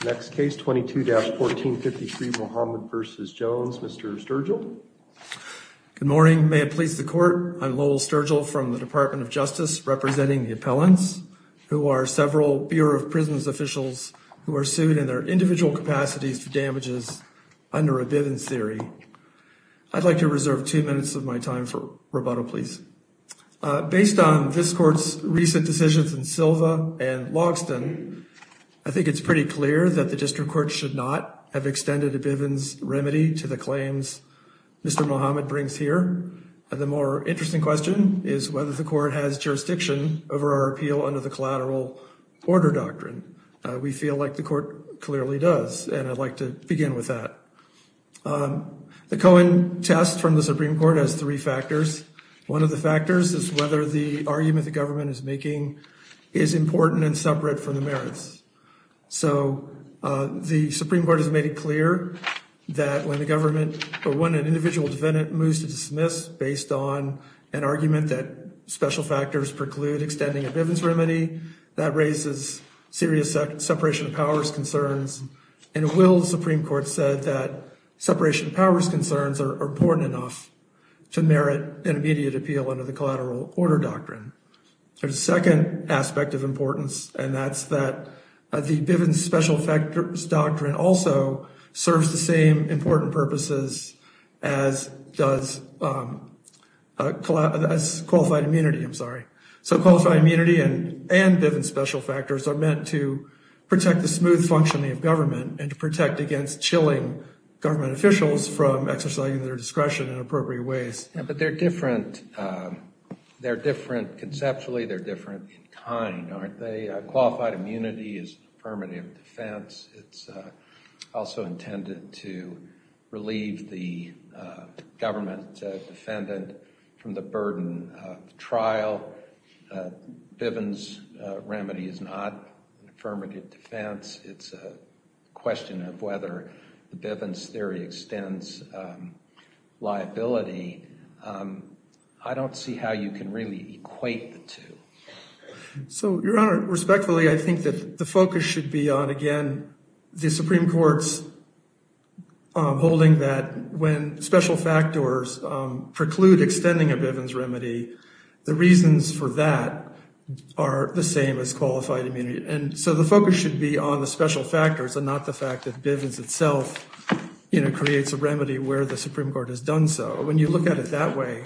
Good morning. May it please the court. I'm Lowell Sturgill from the Department of Justice representing the appellants, who are several Bureau of Prisons officials who are sued in their individual capacities for damages under a Bivens theory. I'd like to reserve two minutes of my time for rebuttal, please. Based on this court's recent decisions in Silva and Logston, I think it's pretty clear that the district court should not have extended a Bivens remedy to the claims Mr. Mohamed brings here. The more interesting question is whether the court has jurisdiction over our appeal under the collateral order doctrine. We feel like the court clearly does, and I'd like to begin with that. The Cohen test from the Supreme Court has three factors. One of the factors is whether the argument the government is making is important and separate from the merits. So the Supreme Court has made it clear that when an individual defendant moves to dismiss based on an argument that special factors preclude extending a Bivens remedy, that raises serious separation of powers concerns. And Will's Supreme Court said that separation of powers concerns are important enough to merit an immediate appeal under the collateral order doctrine. There's a second aspect of importance, and that's that the Bivens special factors doctrine also serves the same important purposes as qualified immunity. I'm sorry. So qualified immunity and Bivens special factors are meant to protect the smooth functioning of government and to protect against chilling government officials from exercising their discretion in appropriate ways. But they're different conceptually. They're different in kind, aren't they? Qualified immunity is affirmative defense. It's also intended to relieve the government defendant from the burden of trial. Bivens remedy is not affirmative defense. It's a question of whether the Bivens theory extends liability. I don't see how you can really equate the two. So, Your Honor, respectfully, I think that the focus should be on, again, the Supreme Court's holding that when special factors preclude extending a Bivens remedy, the reasons for that are the same as qualified immunity. And so the focus should be on the special factors and not the fact that Bivens itself creates a remedy where the Supreme Court has done so. But when you look at it that way,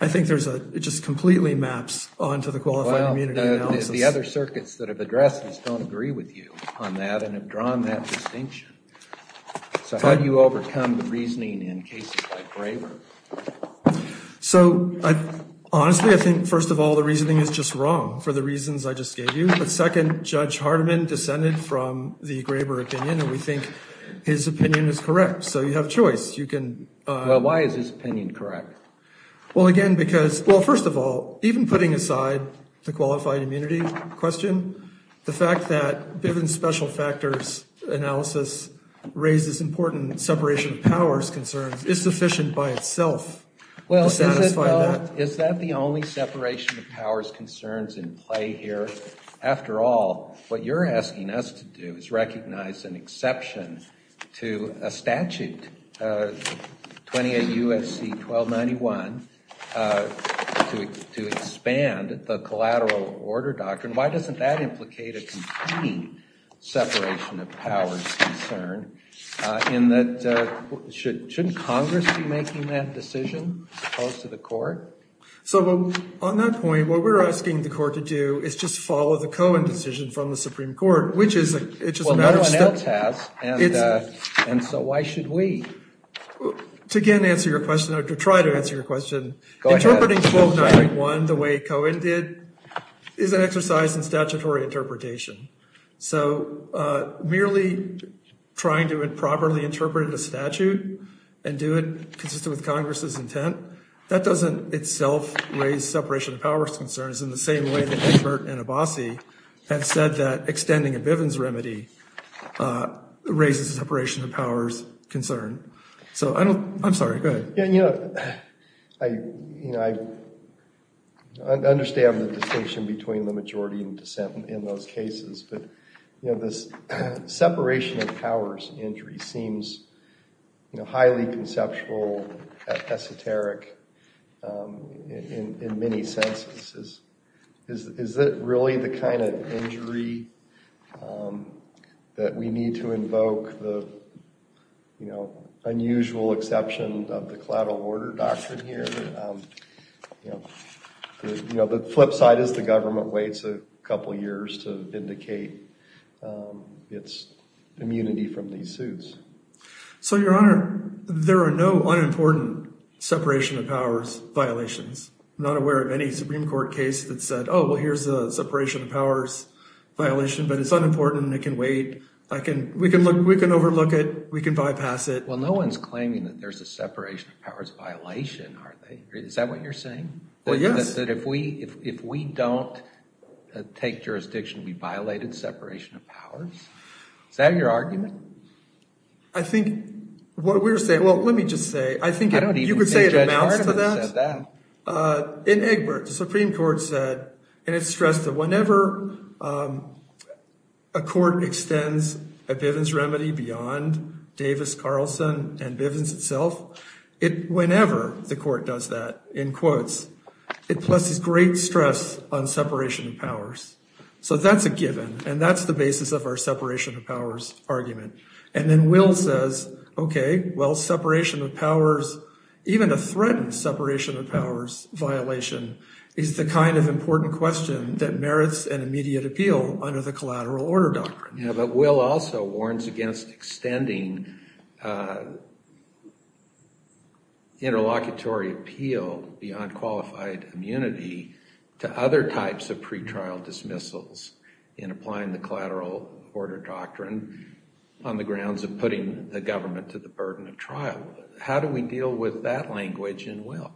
I think it just completely maps onto the qualified immunity analysis. Well, the other circuits that have addressed this don't agree with you on that and have drawn that distinction. So how do you overcome the reasoning in cases like Graber? So, honestly, I think, first of all, the reasoning is just wrong for the reasons I just gave you. But second, Judge Hardiman descended from the Graber opinion, and we think his opinion is correct. So you have a choice. Well, why is his opinion correct? Well, again, because, well, first of all, even putting aside the qualified immunity question, the fact that Bivens special factors analysis raises important separation of powers concerns is sufficient by itself to satisfy that. Well, is that the only separation of powers concerns in play here? After all, what you're asking us to do is recognize an exception to a statute, 28 U.S.C. 1291, to expand the collateral order doctrine. Why doesn't that implicate a complete separation of powers concern in that shouldn't Congress be making that decision as opposed to the court? So on that point, what we're asking the court to do is just follow the Cohen decision from the Supreme Court, which is a matter of step. Well, no one else has. And so why should we? To again answer your question or to try to answer your question, interpreting 1291 the way Cohen did is an exercise in statutory interpretation. So merely trying to improperly interpret a statute and do it consistent with Congress's intent, that doesn't itself raise separation of powers concerns in the same way that Egbert and Abbasi have said that extending a Bivens remedy raises a separation of powers concern. So I'm sorry. Go ahead. You know, I understand the distinction between the majority and dissent in those cases, but this separation of powers injury seems highly conceptual, esoteric in many senses. Is that really the kind of injury that we need to invoke the, you know, unusual exception of the collateral order doctrine here? You know, the flip side is the government waits a couple of years to vindicate its immunity from these suits. So, Your Honor, there are no unimportant separation of powers violations. I'm not aware of any Supreme Court case that said, oh, well, here's a separation of powers violation, but it's unimportant and it can wait. We can overlook it. We can bypass it. Well, no one's claiming that there's a separation of powers violation, are they? Is that what you're saying? Well, yes. That if we don't take jurisdiction, we violated separation of powers. Is that your argument? I think what we're saying, well, let me just say, I think you could say it amounts to that. In Egbert, the Supreme Court said, and it's stressed that whenever a court extends a Bivens remedy beyond Davis Carlson and Bivens itself, whenever the court does that, in quotes, it places great stress on separation of powers. So that's a given, and that's the basis of our separation of powers argument. And then Will says, okay, well, separation of powers, even a threatened separation of powers violation is the kind of important question that merits an immediate appeal under the collateral order doctrine. But Will also warns against extending interlocutory appeal beyond qualified immunity to other types of pretrial dismissals in applying the collateral order doctrine on the grounds of putting the government to the burden of trial. How do we deal with that language in Will?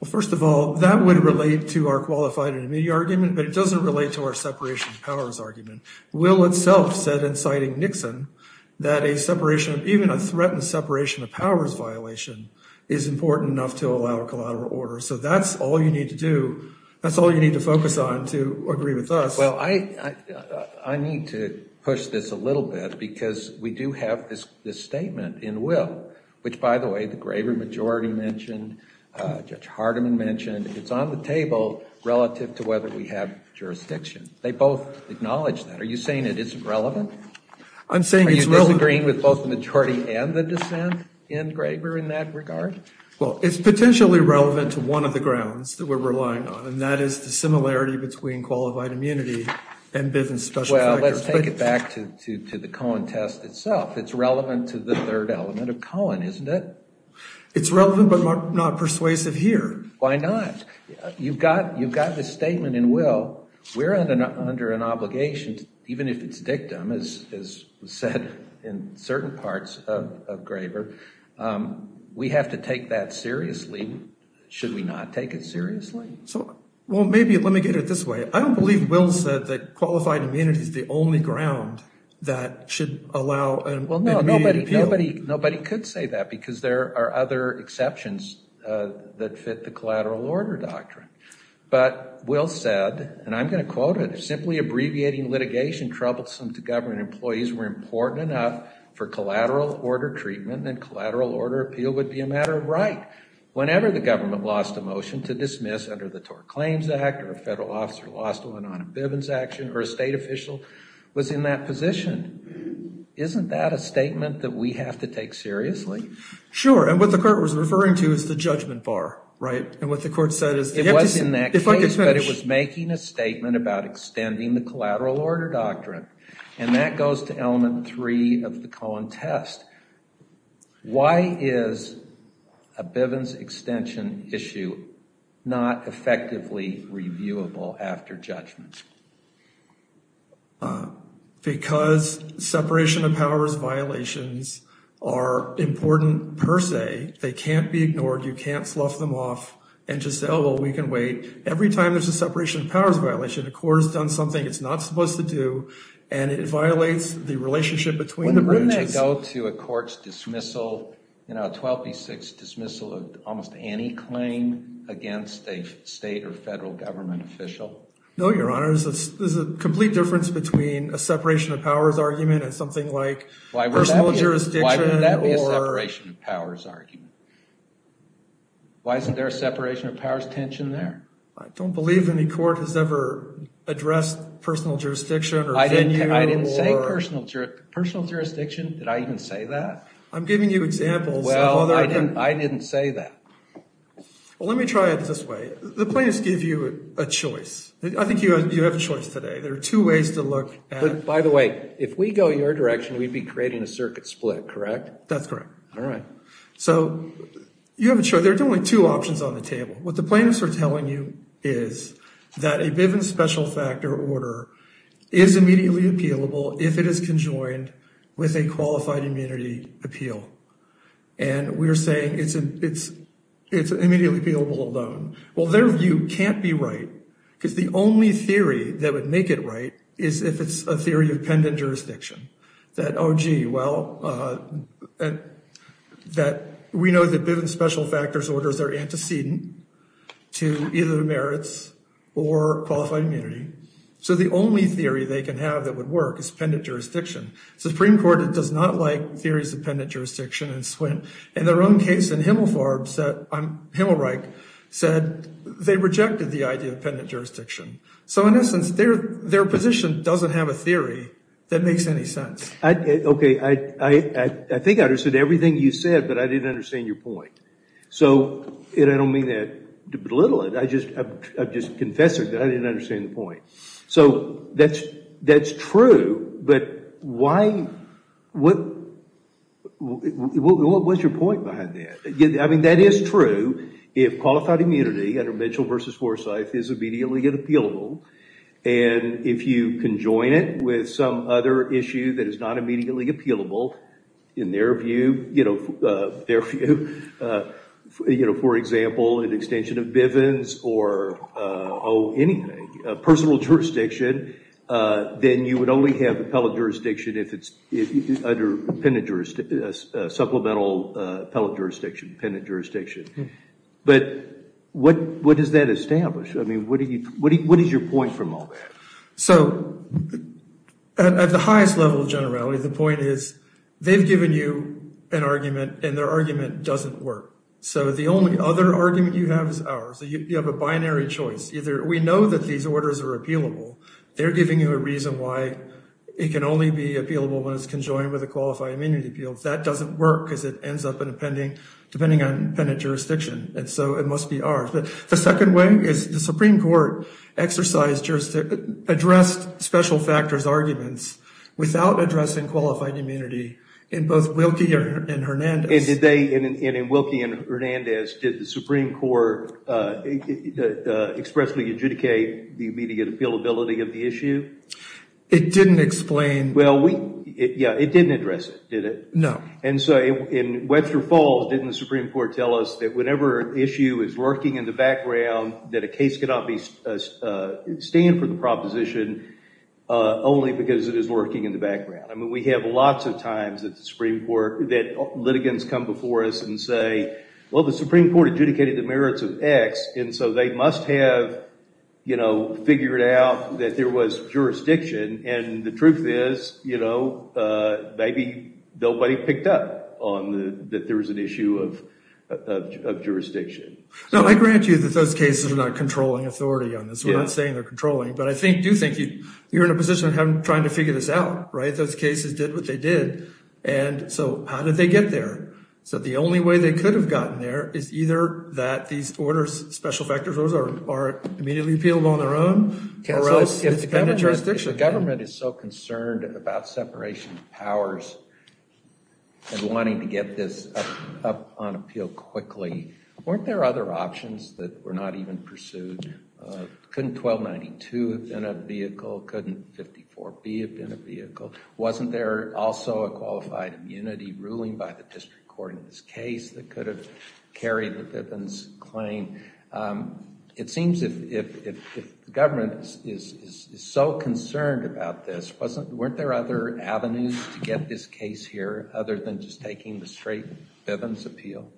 Well, first of all, that would relate to our qualified and immediate argument, but it doesn't relate to our separation of powers argument. Will itself said, inciting Nixon, that a separation of, even a threatened separation of powers violation is important enough to allow a collateral order. So that's all you need to do. That's all you need to focus on to agree with us. Well, I need to push this a little bit because we do have this statement in Will, which, by the way, the Gravery majority mentioned, Judge Hardiman mentioned. It's on the table relative to whether we have jurisdiction. They both acknowledge that. Are you saying it isn't relevant? I'm saying it's relevant. Are you disagreeing with both the majority and the dissent in Graver in that regard? Well, it's potentially relevant to one of the grounds that we're relying on, and that is the similarity between qualified immunity and Bivens special collectors. Well, let's take it back to the Cohen test itself. It's relevant to the third element of Cohen, isn't it? It's relevant, but not persuasive here. Why not? You've got this statement in Will. We're under an obligation, even if it's dictum, as was said in certain parts of Graver. We have to take that seriously. Should we not take it seriously? Well, maybe let me get it this way. I don't believe Will said that qualified immunity is the only ground that should allow an immediate appeal. Well, no, nobody could say that because there are other exceptions that fit the collateral order doctrine. But Will said, and I'm going to quote it, simply abbreviating litigation troublesome to government employees were important enough for collateral order treatment, and collateral order appeal would be a matter of right. Whenever the government lost a motion to dismiss under the TOR Claims Act, or a federal officer lost one on a Bivens action, or a state official was in that position, isn't that a statement that we have to take seriously? Sure, and what the court was referring to is the judgment bar, right? And what the court said is, if I could finish. It was in that case, but it was making a statement about extending the collateral order doctrine, and that goes to element three of the Cohen test. Why is a Bivens extension issue not effectively reviewable after judgment? Because separation of powers violations are important per se. They can't be ignored. You can't slough them off and just say, oh, well, we can wait. Every time there's a separation of powers violation, the court has done something it's not supposed to do, and it violates the relationship between the bridge. Wouldn't that go to a court's dismissal, you know, 12B6 dismissal of almost any claim against a state or federal government official? No, Your Honor. There's a complete difference between a separation of powers argument and something like personal jurisdiction or... Why would that be a separation of powers argument? Why isn't there a separation of powers tension there? I don't believe any court has ever addressed personal jurisdiction or venue or... I didn't say personal jurisdiction. Did I even say that? I'm giving you examples of other... Well, I didn't say that. Well, let me try it this way. The plaintiffs give you a choice. I think you have a choice today. There are two ways to look at... By the way, if we go your direction, we'd be creating a circuit split, correct? That's correct. All right. So you have a choice. There are only two options on the table. What the plaintiffs are telling you is that a Bivens special factor order is immediately appealable if it is conjoined with a qualified immunity appeal. And we're saying it's immediately appealable alone. Well, their view can't be right because the only theory that would make it right is if it's a theory of pendent jurisdiction. That, oh, gee, well... And that we know that Bivens special factors orders are antecedent to either the merits or qualified immunity. So the only theory they can have that would work is pendent jurisdiction. Supreme Court does not like theories of pendent jurisdiction. In their own case in Himmelfarb, Himmelreich, said they rejected the idea of pendent jurisdiction. So in essence, their position doesn't have a theory that makes any sense. Okay. I think I understood everything you said, but I didn't understand your point. And I don't mean to belittle it. I've just confessed that I didn't understand the point. So that's true. But why... What... What was your point behind that? I mean, that is true. If qualified immunity under Mitchell v. Forsyth is immediately appealable, and if you conjoin it with some other issue that is not immediately appealable, in their view, you know, their view, you know, for example, an extension of Bivens or, oh, anything, personal jurisdiction, then you would only have appellate jurisdiction if it's under supplemental appellate jurisdiction, pendent jurisdiction. But what does that establish? I mean, what is your point from all that? So at the highest level of generality, the point is they've given you an argument, and their argument doesn't work. So the only other argument you have is ours. You have a binary choice. Either we know that these orders are appealable. They're giving you a reason why it can only be appealable when it's conjoined with a qualified immunity appeal. That doesn't work because it ends up in a pending, depending on pendent jurisdiction. And so it must be ours. But the second way is the Supreme Court exercised jurisdiction, addressed special factors arguments without addressing qualified immunity in both Wilkie and Hernandez. And did they, in Wilkie and Hernandez, did the Supreme Court expressly adjudicate the immediate appealability of the issue? It didn't explain. Yeah, it didn't address it, did it? No. And so in Webster Falls, didn't the Supreme Court tell us that whenever an issue is lurking in the background that a case cannot stand for the proposition only because it is lurking in the background? I mean, we have lots of times that the Supreme Court, that litigants come before us and say, well, the Supreme Court adjudicated the merits of X, and so they must have, you know, figured out that there was jurisdiction. And the truth is, you know, maybe nobody picked up that there was an issue of jurisdiction. Now, I grant you that those cases are not controlling authority on this. We're not saying they're controlling, but I do think you're in a position of trying to figure this out, right? Those cases did what they did. And so how did they get there? So the only way they could have gotten there is either that these orders, special factors orders, are immediately appealed on their own, or else it's dependent jurisdiction. If the government is so concerned about separation of powers and wanting to get this up on appeal quickly, weren't there other options that were not even pursued? Couldn't 1292 have been a vehicle? Couldn't 54B have been a vehicle? Wasn't there also a qualified immunity ruling by the district court in this case that could have carried the Bivens claim? It seems if the government is so concerned about this, weren't there other avenues to get this case here other than just taking the straight Bivens appeal?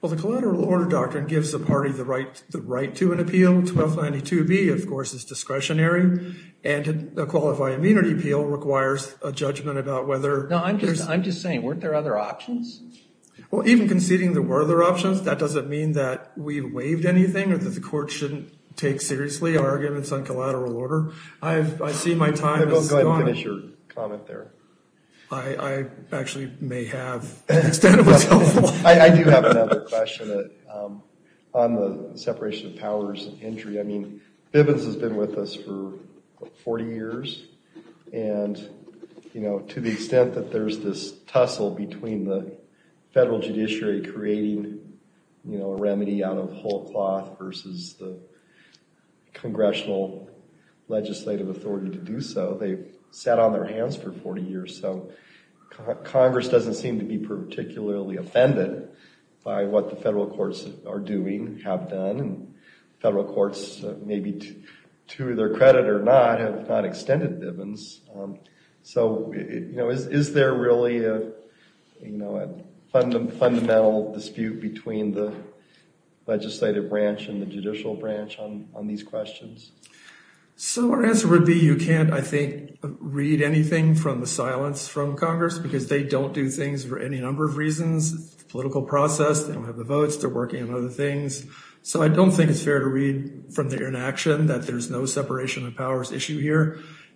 Well, the collateral order doctrine gives the party the right to an appeal. 1292B, of course, is discretionary, and a qualified immunity appeal requires a judgment about whether... No, I'm just saying, weren't there other options? Well, even conceding there were other options, that doesn't mean that we waived anything or that the court shouldn't take seriously our arguments on collateral order. I see my time is gone. Go ahead and finish your comment there. I actually may have... I do have another question on the separation of powers and injury. I mean, Bivens has been with us for 40 years, and to the extent that there's this tussle between the federal judiciary creating a remedy out of whole cloth versus the congressional legislative authority to do so, they've sat on their hands for 40 years, so Congress doesn't seem to be particularly offended by what the federal courts are doing, have done, and federal courts, maybe to their credit or not, have not extended Bivens. So is there really a fundamental dispute between the legislative branch and the judicial branch on these questions? So our answer would be you can't, I think, read anything from the silence from Congress because they don't do things for any number of reasons. It's a political process. They don't have the votes. They're working on other things. So I don't think it's fair to read from their inaction here,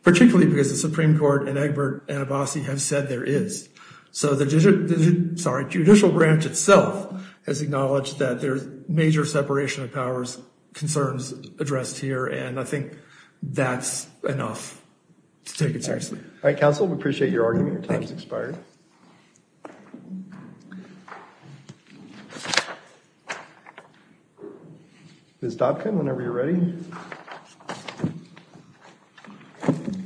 particularly because the Supreme Court and Egbert and Abbasi have said there is. So the judicial, sorry, judicial branch itself has acknowledged that there's major separation of powers concerns addressed here, and I think that's enough to take it seriously. All right, counsel, we appreciate your argument. Your time's expired. Ms. Dobkin, whenever you're ready. Thank you.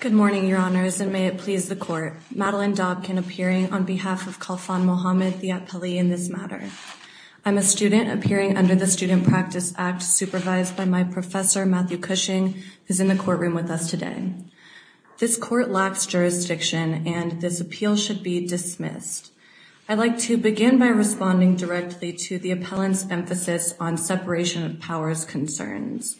Good morning, your honors, and may it please the court. Madeline Dobkin appearing on behalf of Kalfan Muhammad, the appellee in this matter. I'm a student appearing under the Student Practice Act supervised by my professor, Matthew Cushing, who's in the courtroom with us today. This court lacks jurisdiction and this appeal should be dismissed. I'd like to begin by responding directly to the appellant's emphasis on separation of powers concerns.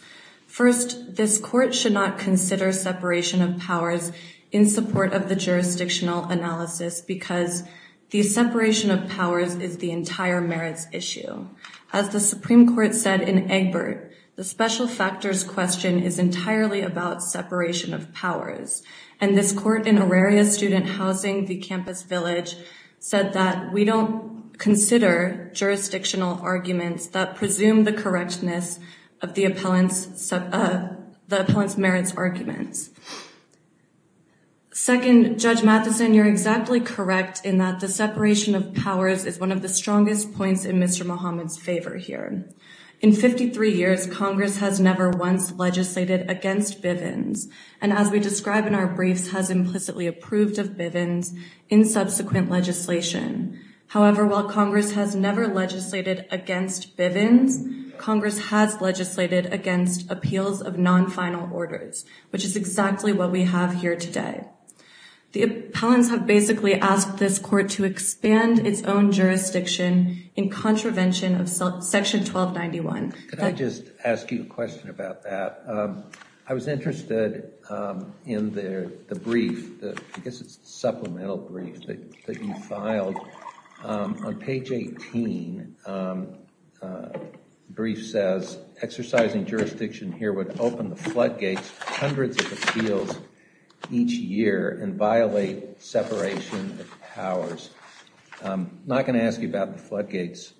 First, this court should not consider separation of powers in support of the jurisdictional analysis because the separation of powers is the entire merits issue. As the Supreme Court said in Egbert, the special factors question is entirely about separation of powers, and this court in Auraria Student Housing, the campus village, said that we don't consider jurisdictional arguments that presume the correctness of the appellant's merits arguments. Second, Judge Matheson, you're exactly correct in that the separation of powers is one of the strongest points in Mr. Muhammad's favor here. In 53 years, Congress has never once legislated against Bivens, and as we describe in our briefs, has implicitly approved of Bivens in subsequent legislation. However, while Congress has never legislated against Bivens, Congress has legislated against appeals of non-final orders, which is exactly what we have here today. The appellants have basically asked this court to expand its own jurisdiction in contravention of Section 1291. Could I just ask you a question about that? I was interested in the brief, I guess it's the supplemental brief that you filed. On page 18, the brief says, exercising jurisdiction here would open the floodgates to hundreds of appeals each year and violate separation of powers. I'm not going to ask you about the floodgates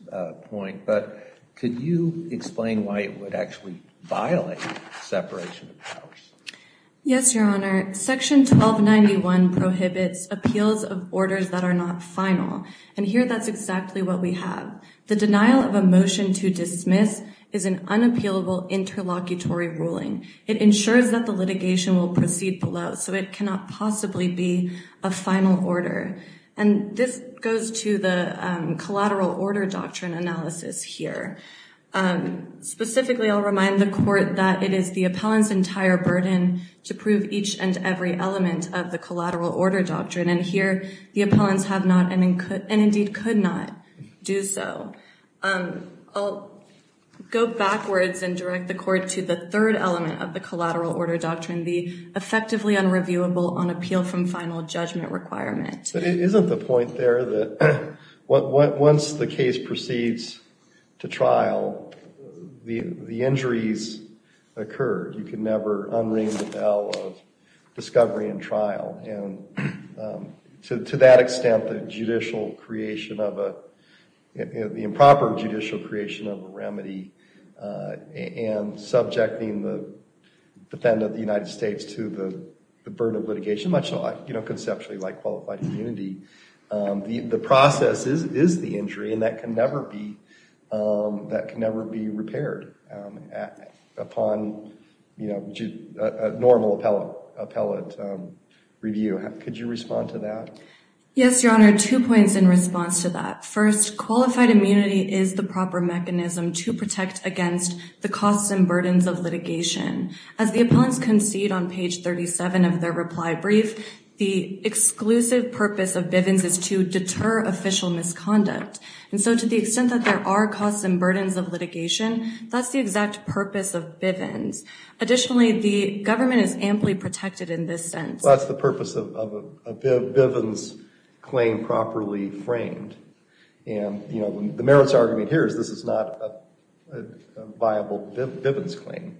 point, but could you explain why it would actually violate separation of powers? Yes, Your Honor. Section 1291 prohibits appeals of orders that are not final, and here that's exactly what we have. The denial of a motion to dismiss is an unappealable interlocutory ruling. It ensures that the litigation will proceed below, so it cannot possibly be a final order. And this goes to the collateral order doctrine analysis here. Specifically, I'll remind the court that it is the appellant's entire burden to prove each and every element of the collateral order doctrine, and here the appellants have not and indeed could not do so. I'll go backwards and direct the court to the third element of the collateral order doctrine, the effectively unreviewable on appeal from final judgment requirement. But isn't the point there that once the case proceeds to trial, the injuries occur? You can never unring the bell of discovery and trial, and to that extent, the judicial creation of a, the improper judicial creation of a remedy and subjecting the defendant of the United States to the burden of litigation, much like, you know, conceptually like qualified immunity, the process is the injury, and that can never be, can never be repaired upon, you know, a normal appellate review. Could you respond to that? Yes, Your Honor, two points in response to that. First, qualified immunity is the proper mechanism to protect against the costs and burdens of litigation. As the appellants concede on page 37 of their reply brief, the exclusive purpose of Bivens is to deter official misconduct, and so to the extent that there are costs and burdens of litigation, that's the exact purpose of Bivens. Additionally, the government is amply protected in this sense. Well, that's the purpose of a Bivens claim properly framed. And, you know, the merits argument here is this is not a viable Bivens claim.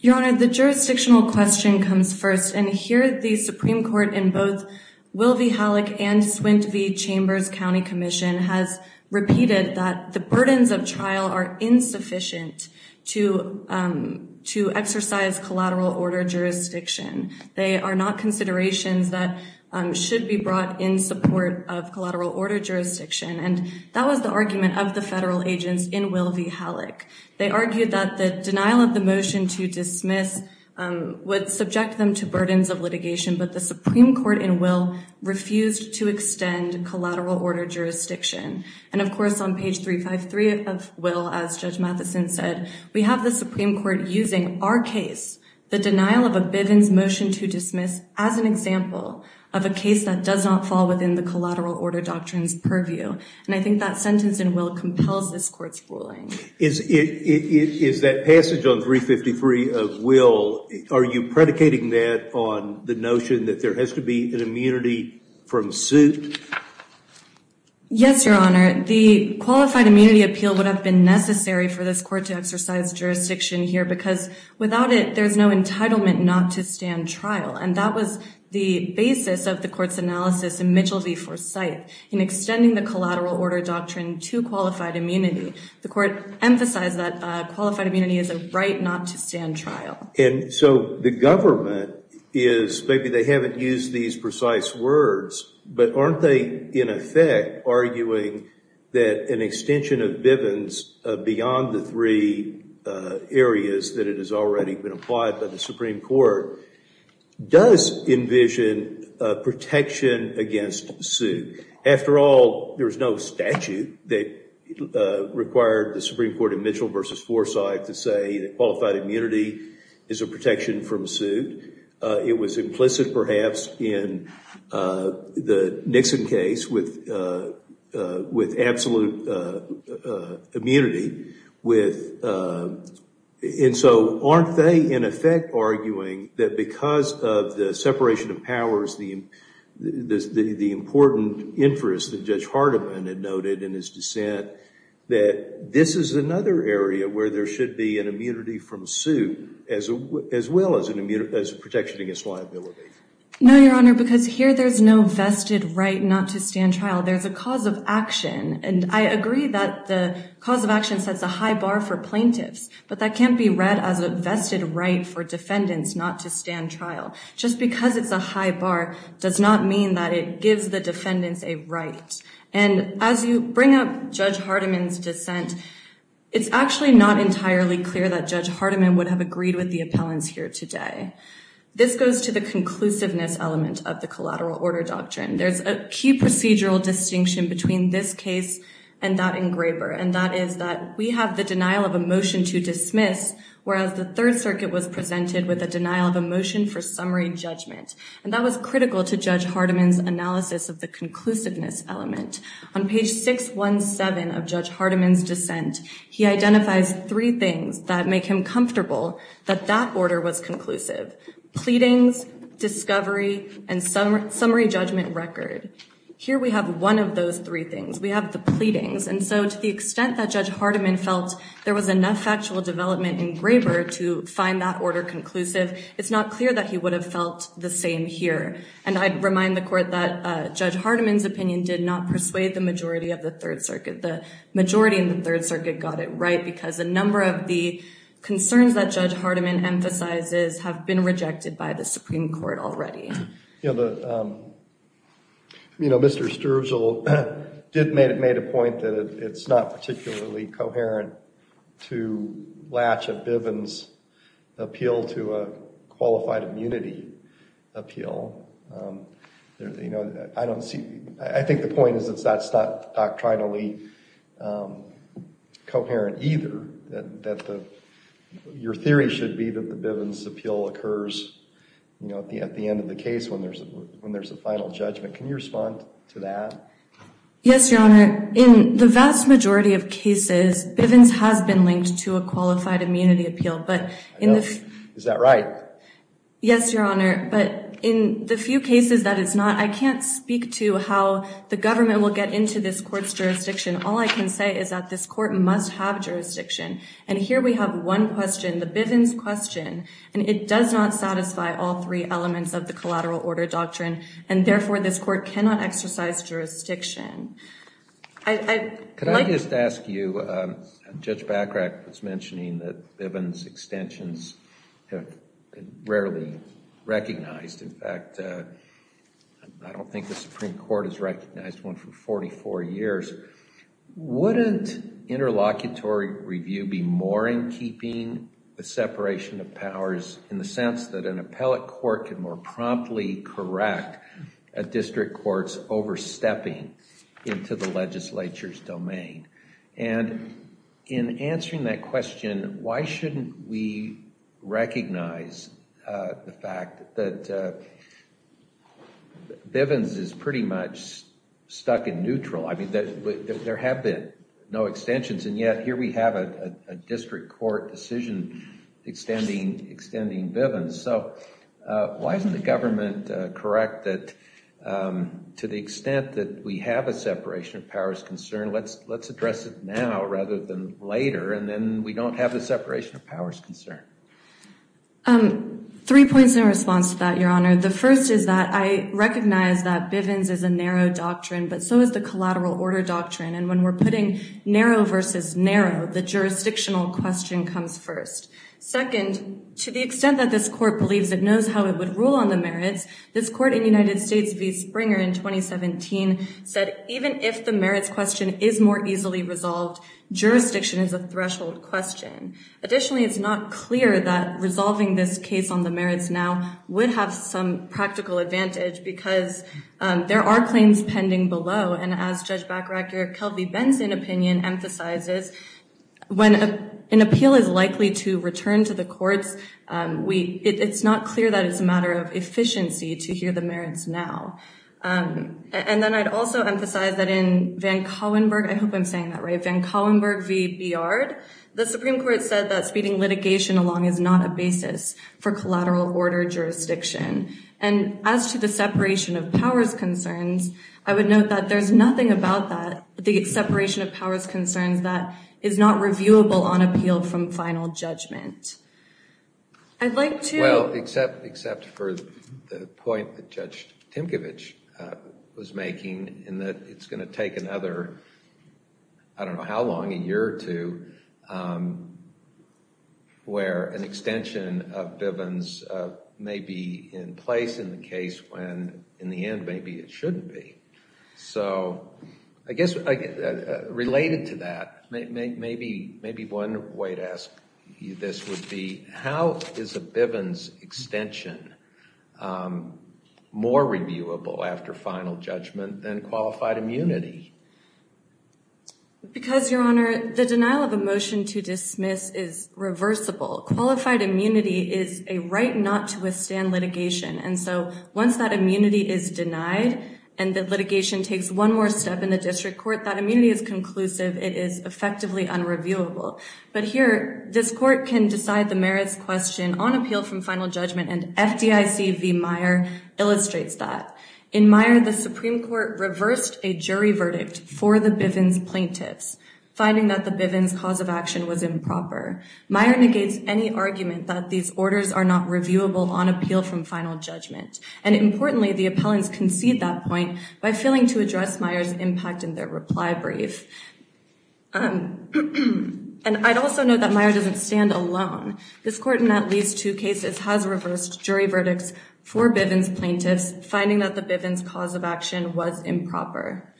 Your Honor, the jurisdictional question comes first, and here the Supreme Court in both Will v. Halleck and Swint v. Chambers County Commission has repeated that the burdens of trial are insufficient to exercise collateral order jurisdiction. They are not considerations that should be brought in support of collateral order jurisdiction, and that was the argument of the federal agents in Will v. Halleck. They argued that the denial of the motion to dismiss would subject them to burdens of litigation, but the Supreme Court in Will refused to extend collateral order jurisdiction. And, of course, on page 353 of Will, as Judge Mathison said, we have the Supreme Court using our case, the denial of a Bivens motion to dismiss, as an example of a case that does not fall within the collateral order doctrines purview. And I think that sentence in Will compels this Court's ruling. Is that passage on 353 of Will, are you predicating that on the notion that there has to be an immunity from suit? Yes, Your Honor. The qualified immunity appeal would have been necessary for this Court to exercise jurisdiction here because without it, there's no entitlement not to stand trial. And that was the basis of the Court's analysis in Mitchell v. Forsythe in extending the collateral order doctrine to qualified immunity. The Court emphasized that qualified immunity is a right not to stand trial. And so the government is, maybe they haven't used these precise words, but aren't they, in effect, arguing that an extension of Bivens beyond the three areas that it has already been applied by the Supreme Court does envision protection against suit? After all, there's no statute that required the Supreme Court in Mitchell v. Forsythe to say that qualified immunity is a protection from suit. It was implicit, perhaps, in the Nixon case with absolute immunity. And so aren't they, in effect, arguing that because of the separation of powers, the important interest that Judge Hardiman had noted in his dissent that this is another area where there should be an immunity from suit as well as protection against liability? No, Your Honor, because here there's no vested right not to stand trial. There's a cause of action. And I agree that the cause of action sets a high bar for plaintiffs, but that can't be read as a vested right for defendants not to stand trial. Just because it's a high bar does not mean that it gives the defendants a right. And as you bring up Judge Hardiman's dissent, it's actually not entirely clear that Judge Hardiman would have agreed with the appellants here today. This goes to the conclusiveness element of the collateral order doctrine. There's a key procedural distinction between this case and that engraver, and that is that we have the denial of a motion to dismiss, whereas the Third Circuit was presented with a denial of a motion for summary judgment. And that was critical to Judge Hardiman's analysis of the conclusiveness element. On page 617 of Judge Hardiman's dissent, he identifies three things that make him comfortable that that order was conclusive. Pleadings, discovery, and summary judgment record. Here we have one of those three things. We have the pleadings, and so to the extent that Judge Hardiman felt there was enough factual development in engraver to find that order conclusive, it's not clear that he would have felt the same here. And I'd remind the Court that Judge Hardiman's opinion did not persuade the majority of the Third Circuit. The majority in the Third Circuit got it right because a number of the concerns that Judge Hardiman emphasizes have been rejected by the Supreme Court already. You know, Mr. Sturgill did make a point that it's not particularly coherent to Latch and Bivens' appeal to a qualified immunity appeal. You know, I don't see, I think the point is that's not doctrinally coherent either. That the, your theory should be that the Bivens' appeal occurs you know, at the end of the case when there's a final judgment. Can you respond to that? Yes, Your Honor. In the vast majority of cases, Bivens has been linked to a qualified immunity appeal. But in the... I know. Is that right? Yes, Your Honor. But in the few cases that it's not, I can't speak to how the government will get into this Court's jurisdiction all I can say is that this Court must have jurisdiction. And here we have one question, the Bivens' question and it does not satisfy all three elements of the collateral order doctrine and therefore this Court cannot exercise jurisdiction. I... Could I just ask you, Judge Bachrach was mentioning that Bivens' extensions have been rarely recognized. In fact, I don't think the Supreme Court has recognized one for 44 years. Wouldn't interlocutory review be more in keeping the separation of powers in the sense that an appellate court can more promptly correct a district court's overstepping into the legislature's domain? And in answering that question, why shouldn't we recognize the fact that Bivens is pretty much stuck in neutral? I mean, there have been no extensions and yet here we have a district court decision extending Bivens, so why isn't the government correct that to the extent that we have a separation of powers concern, let's address it now rather than later and then we don't have a separation of powers concern. Three points in response to that, Your Honor. The first is that I recognize that Bivens is a narrow doctrine, but so is the collateral order doctrine, and when we're putting narrow versus narrow, the jurisdictional question comes first. Second, to the extent that this court believes it knows how it would rule on the merits, this court in United States v. Springer in 2017 said even if the merits question is more easily resolved, jurisdiction is a threshold question. Additionally, it's not clear that resolving this case on the merits now would have some practical advantage because there are claims pending below, and as Judge Backracker, Kelvie Benson opinion emphasizes, when an appeal is likely to return to the courts, it's not clear that it's a matter of efficiency to hear the merits now. And then I'd also emphasize that in Van Collenberg, I hope I'm saying that right, Van Collenberg v. Biard, the Supreme Court said that speeding litigation along is not a basis for collateral order jurisdiction. And as to the separation of powers concerns, I would note that there's nothing about that, the separation of powers concerns, that is not reviewable on appeal from final judgment. I'd like to – Well, except for the point that Judge Timkovich was making in that it's going to take another, I don't know how long, a year or two, where an extension of Bivens may be in place in the case when in the end maybe it shouldn't be. So, I guess related to that, maybe one way to ask you this would be, how is a Bivens extension more reviewable after final judgment than qualified immunity? Because, Your Honor, the denial of a motion to dismiss is reversible. Qualified immunity is a right not to withstand litigation. And so, once that immunity is denied and the litigation takes one more step in the district court, it is effectively unreviewable. But here, this court can decide the merits question on appeal from final judgment and FDIC V. Meyer illustrates that. In order to address Meyer's impact in their reply brief, I'd also note that Meyer doesn't stand alone. This court, in at least two cases, has reversed jury verdicts for Bivens plaintiffs finding that the Bivens cause of action was improper.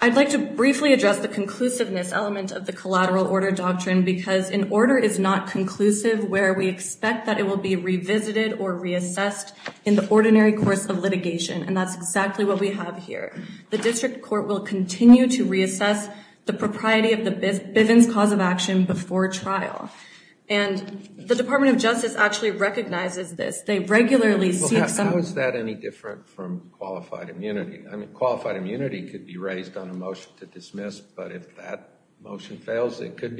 I'd like to briefly address the conclusiveness element of the collateral order doctrine because an order is not conclusive where we expect that it will be revisited or reassessed in the ordinary course of litigation. That's exactly what we have here. The district court will continue to reassess the propriety of the Bivens cause of action before trial. The Department of Justice recognizes this. They recognize that the Bivens extension issue could continue to be in play but that different from qualified immunity because it potentially could continue to be in play. Because immunity is a term that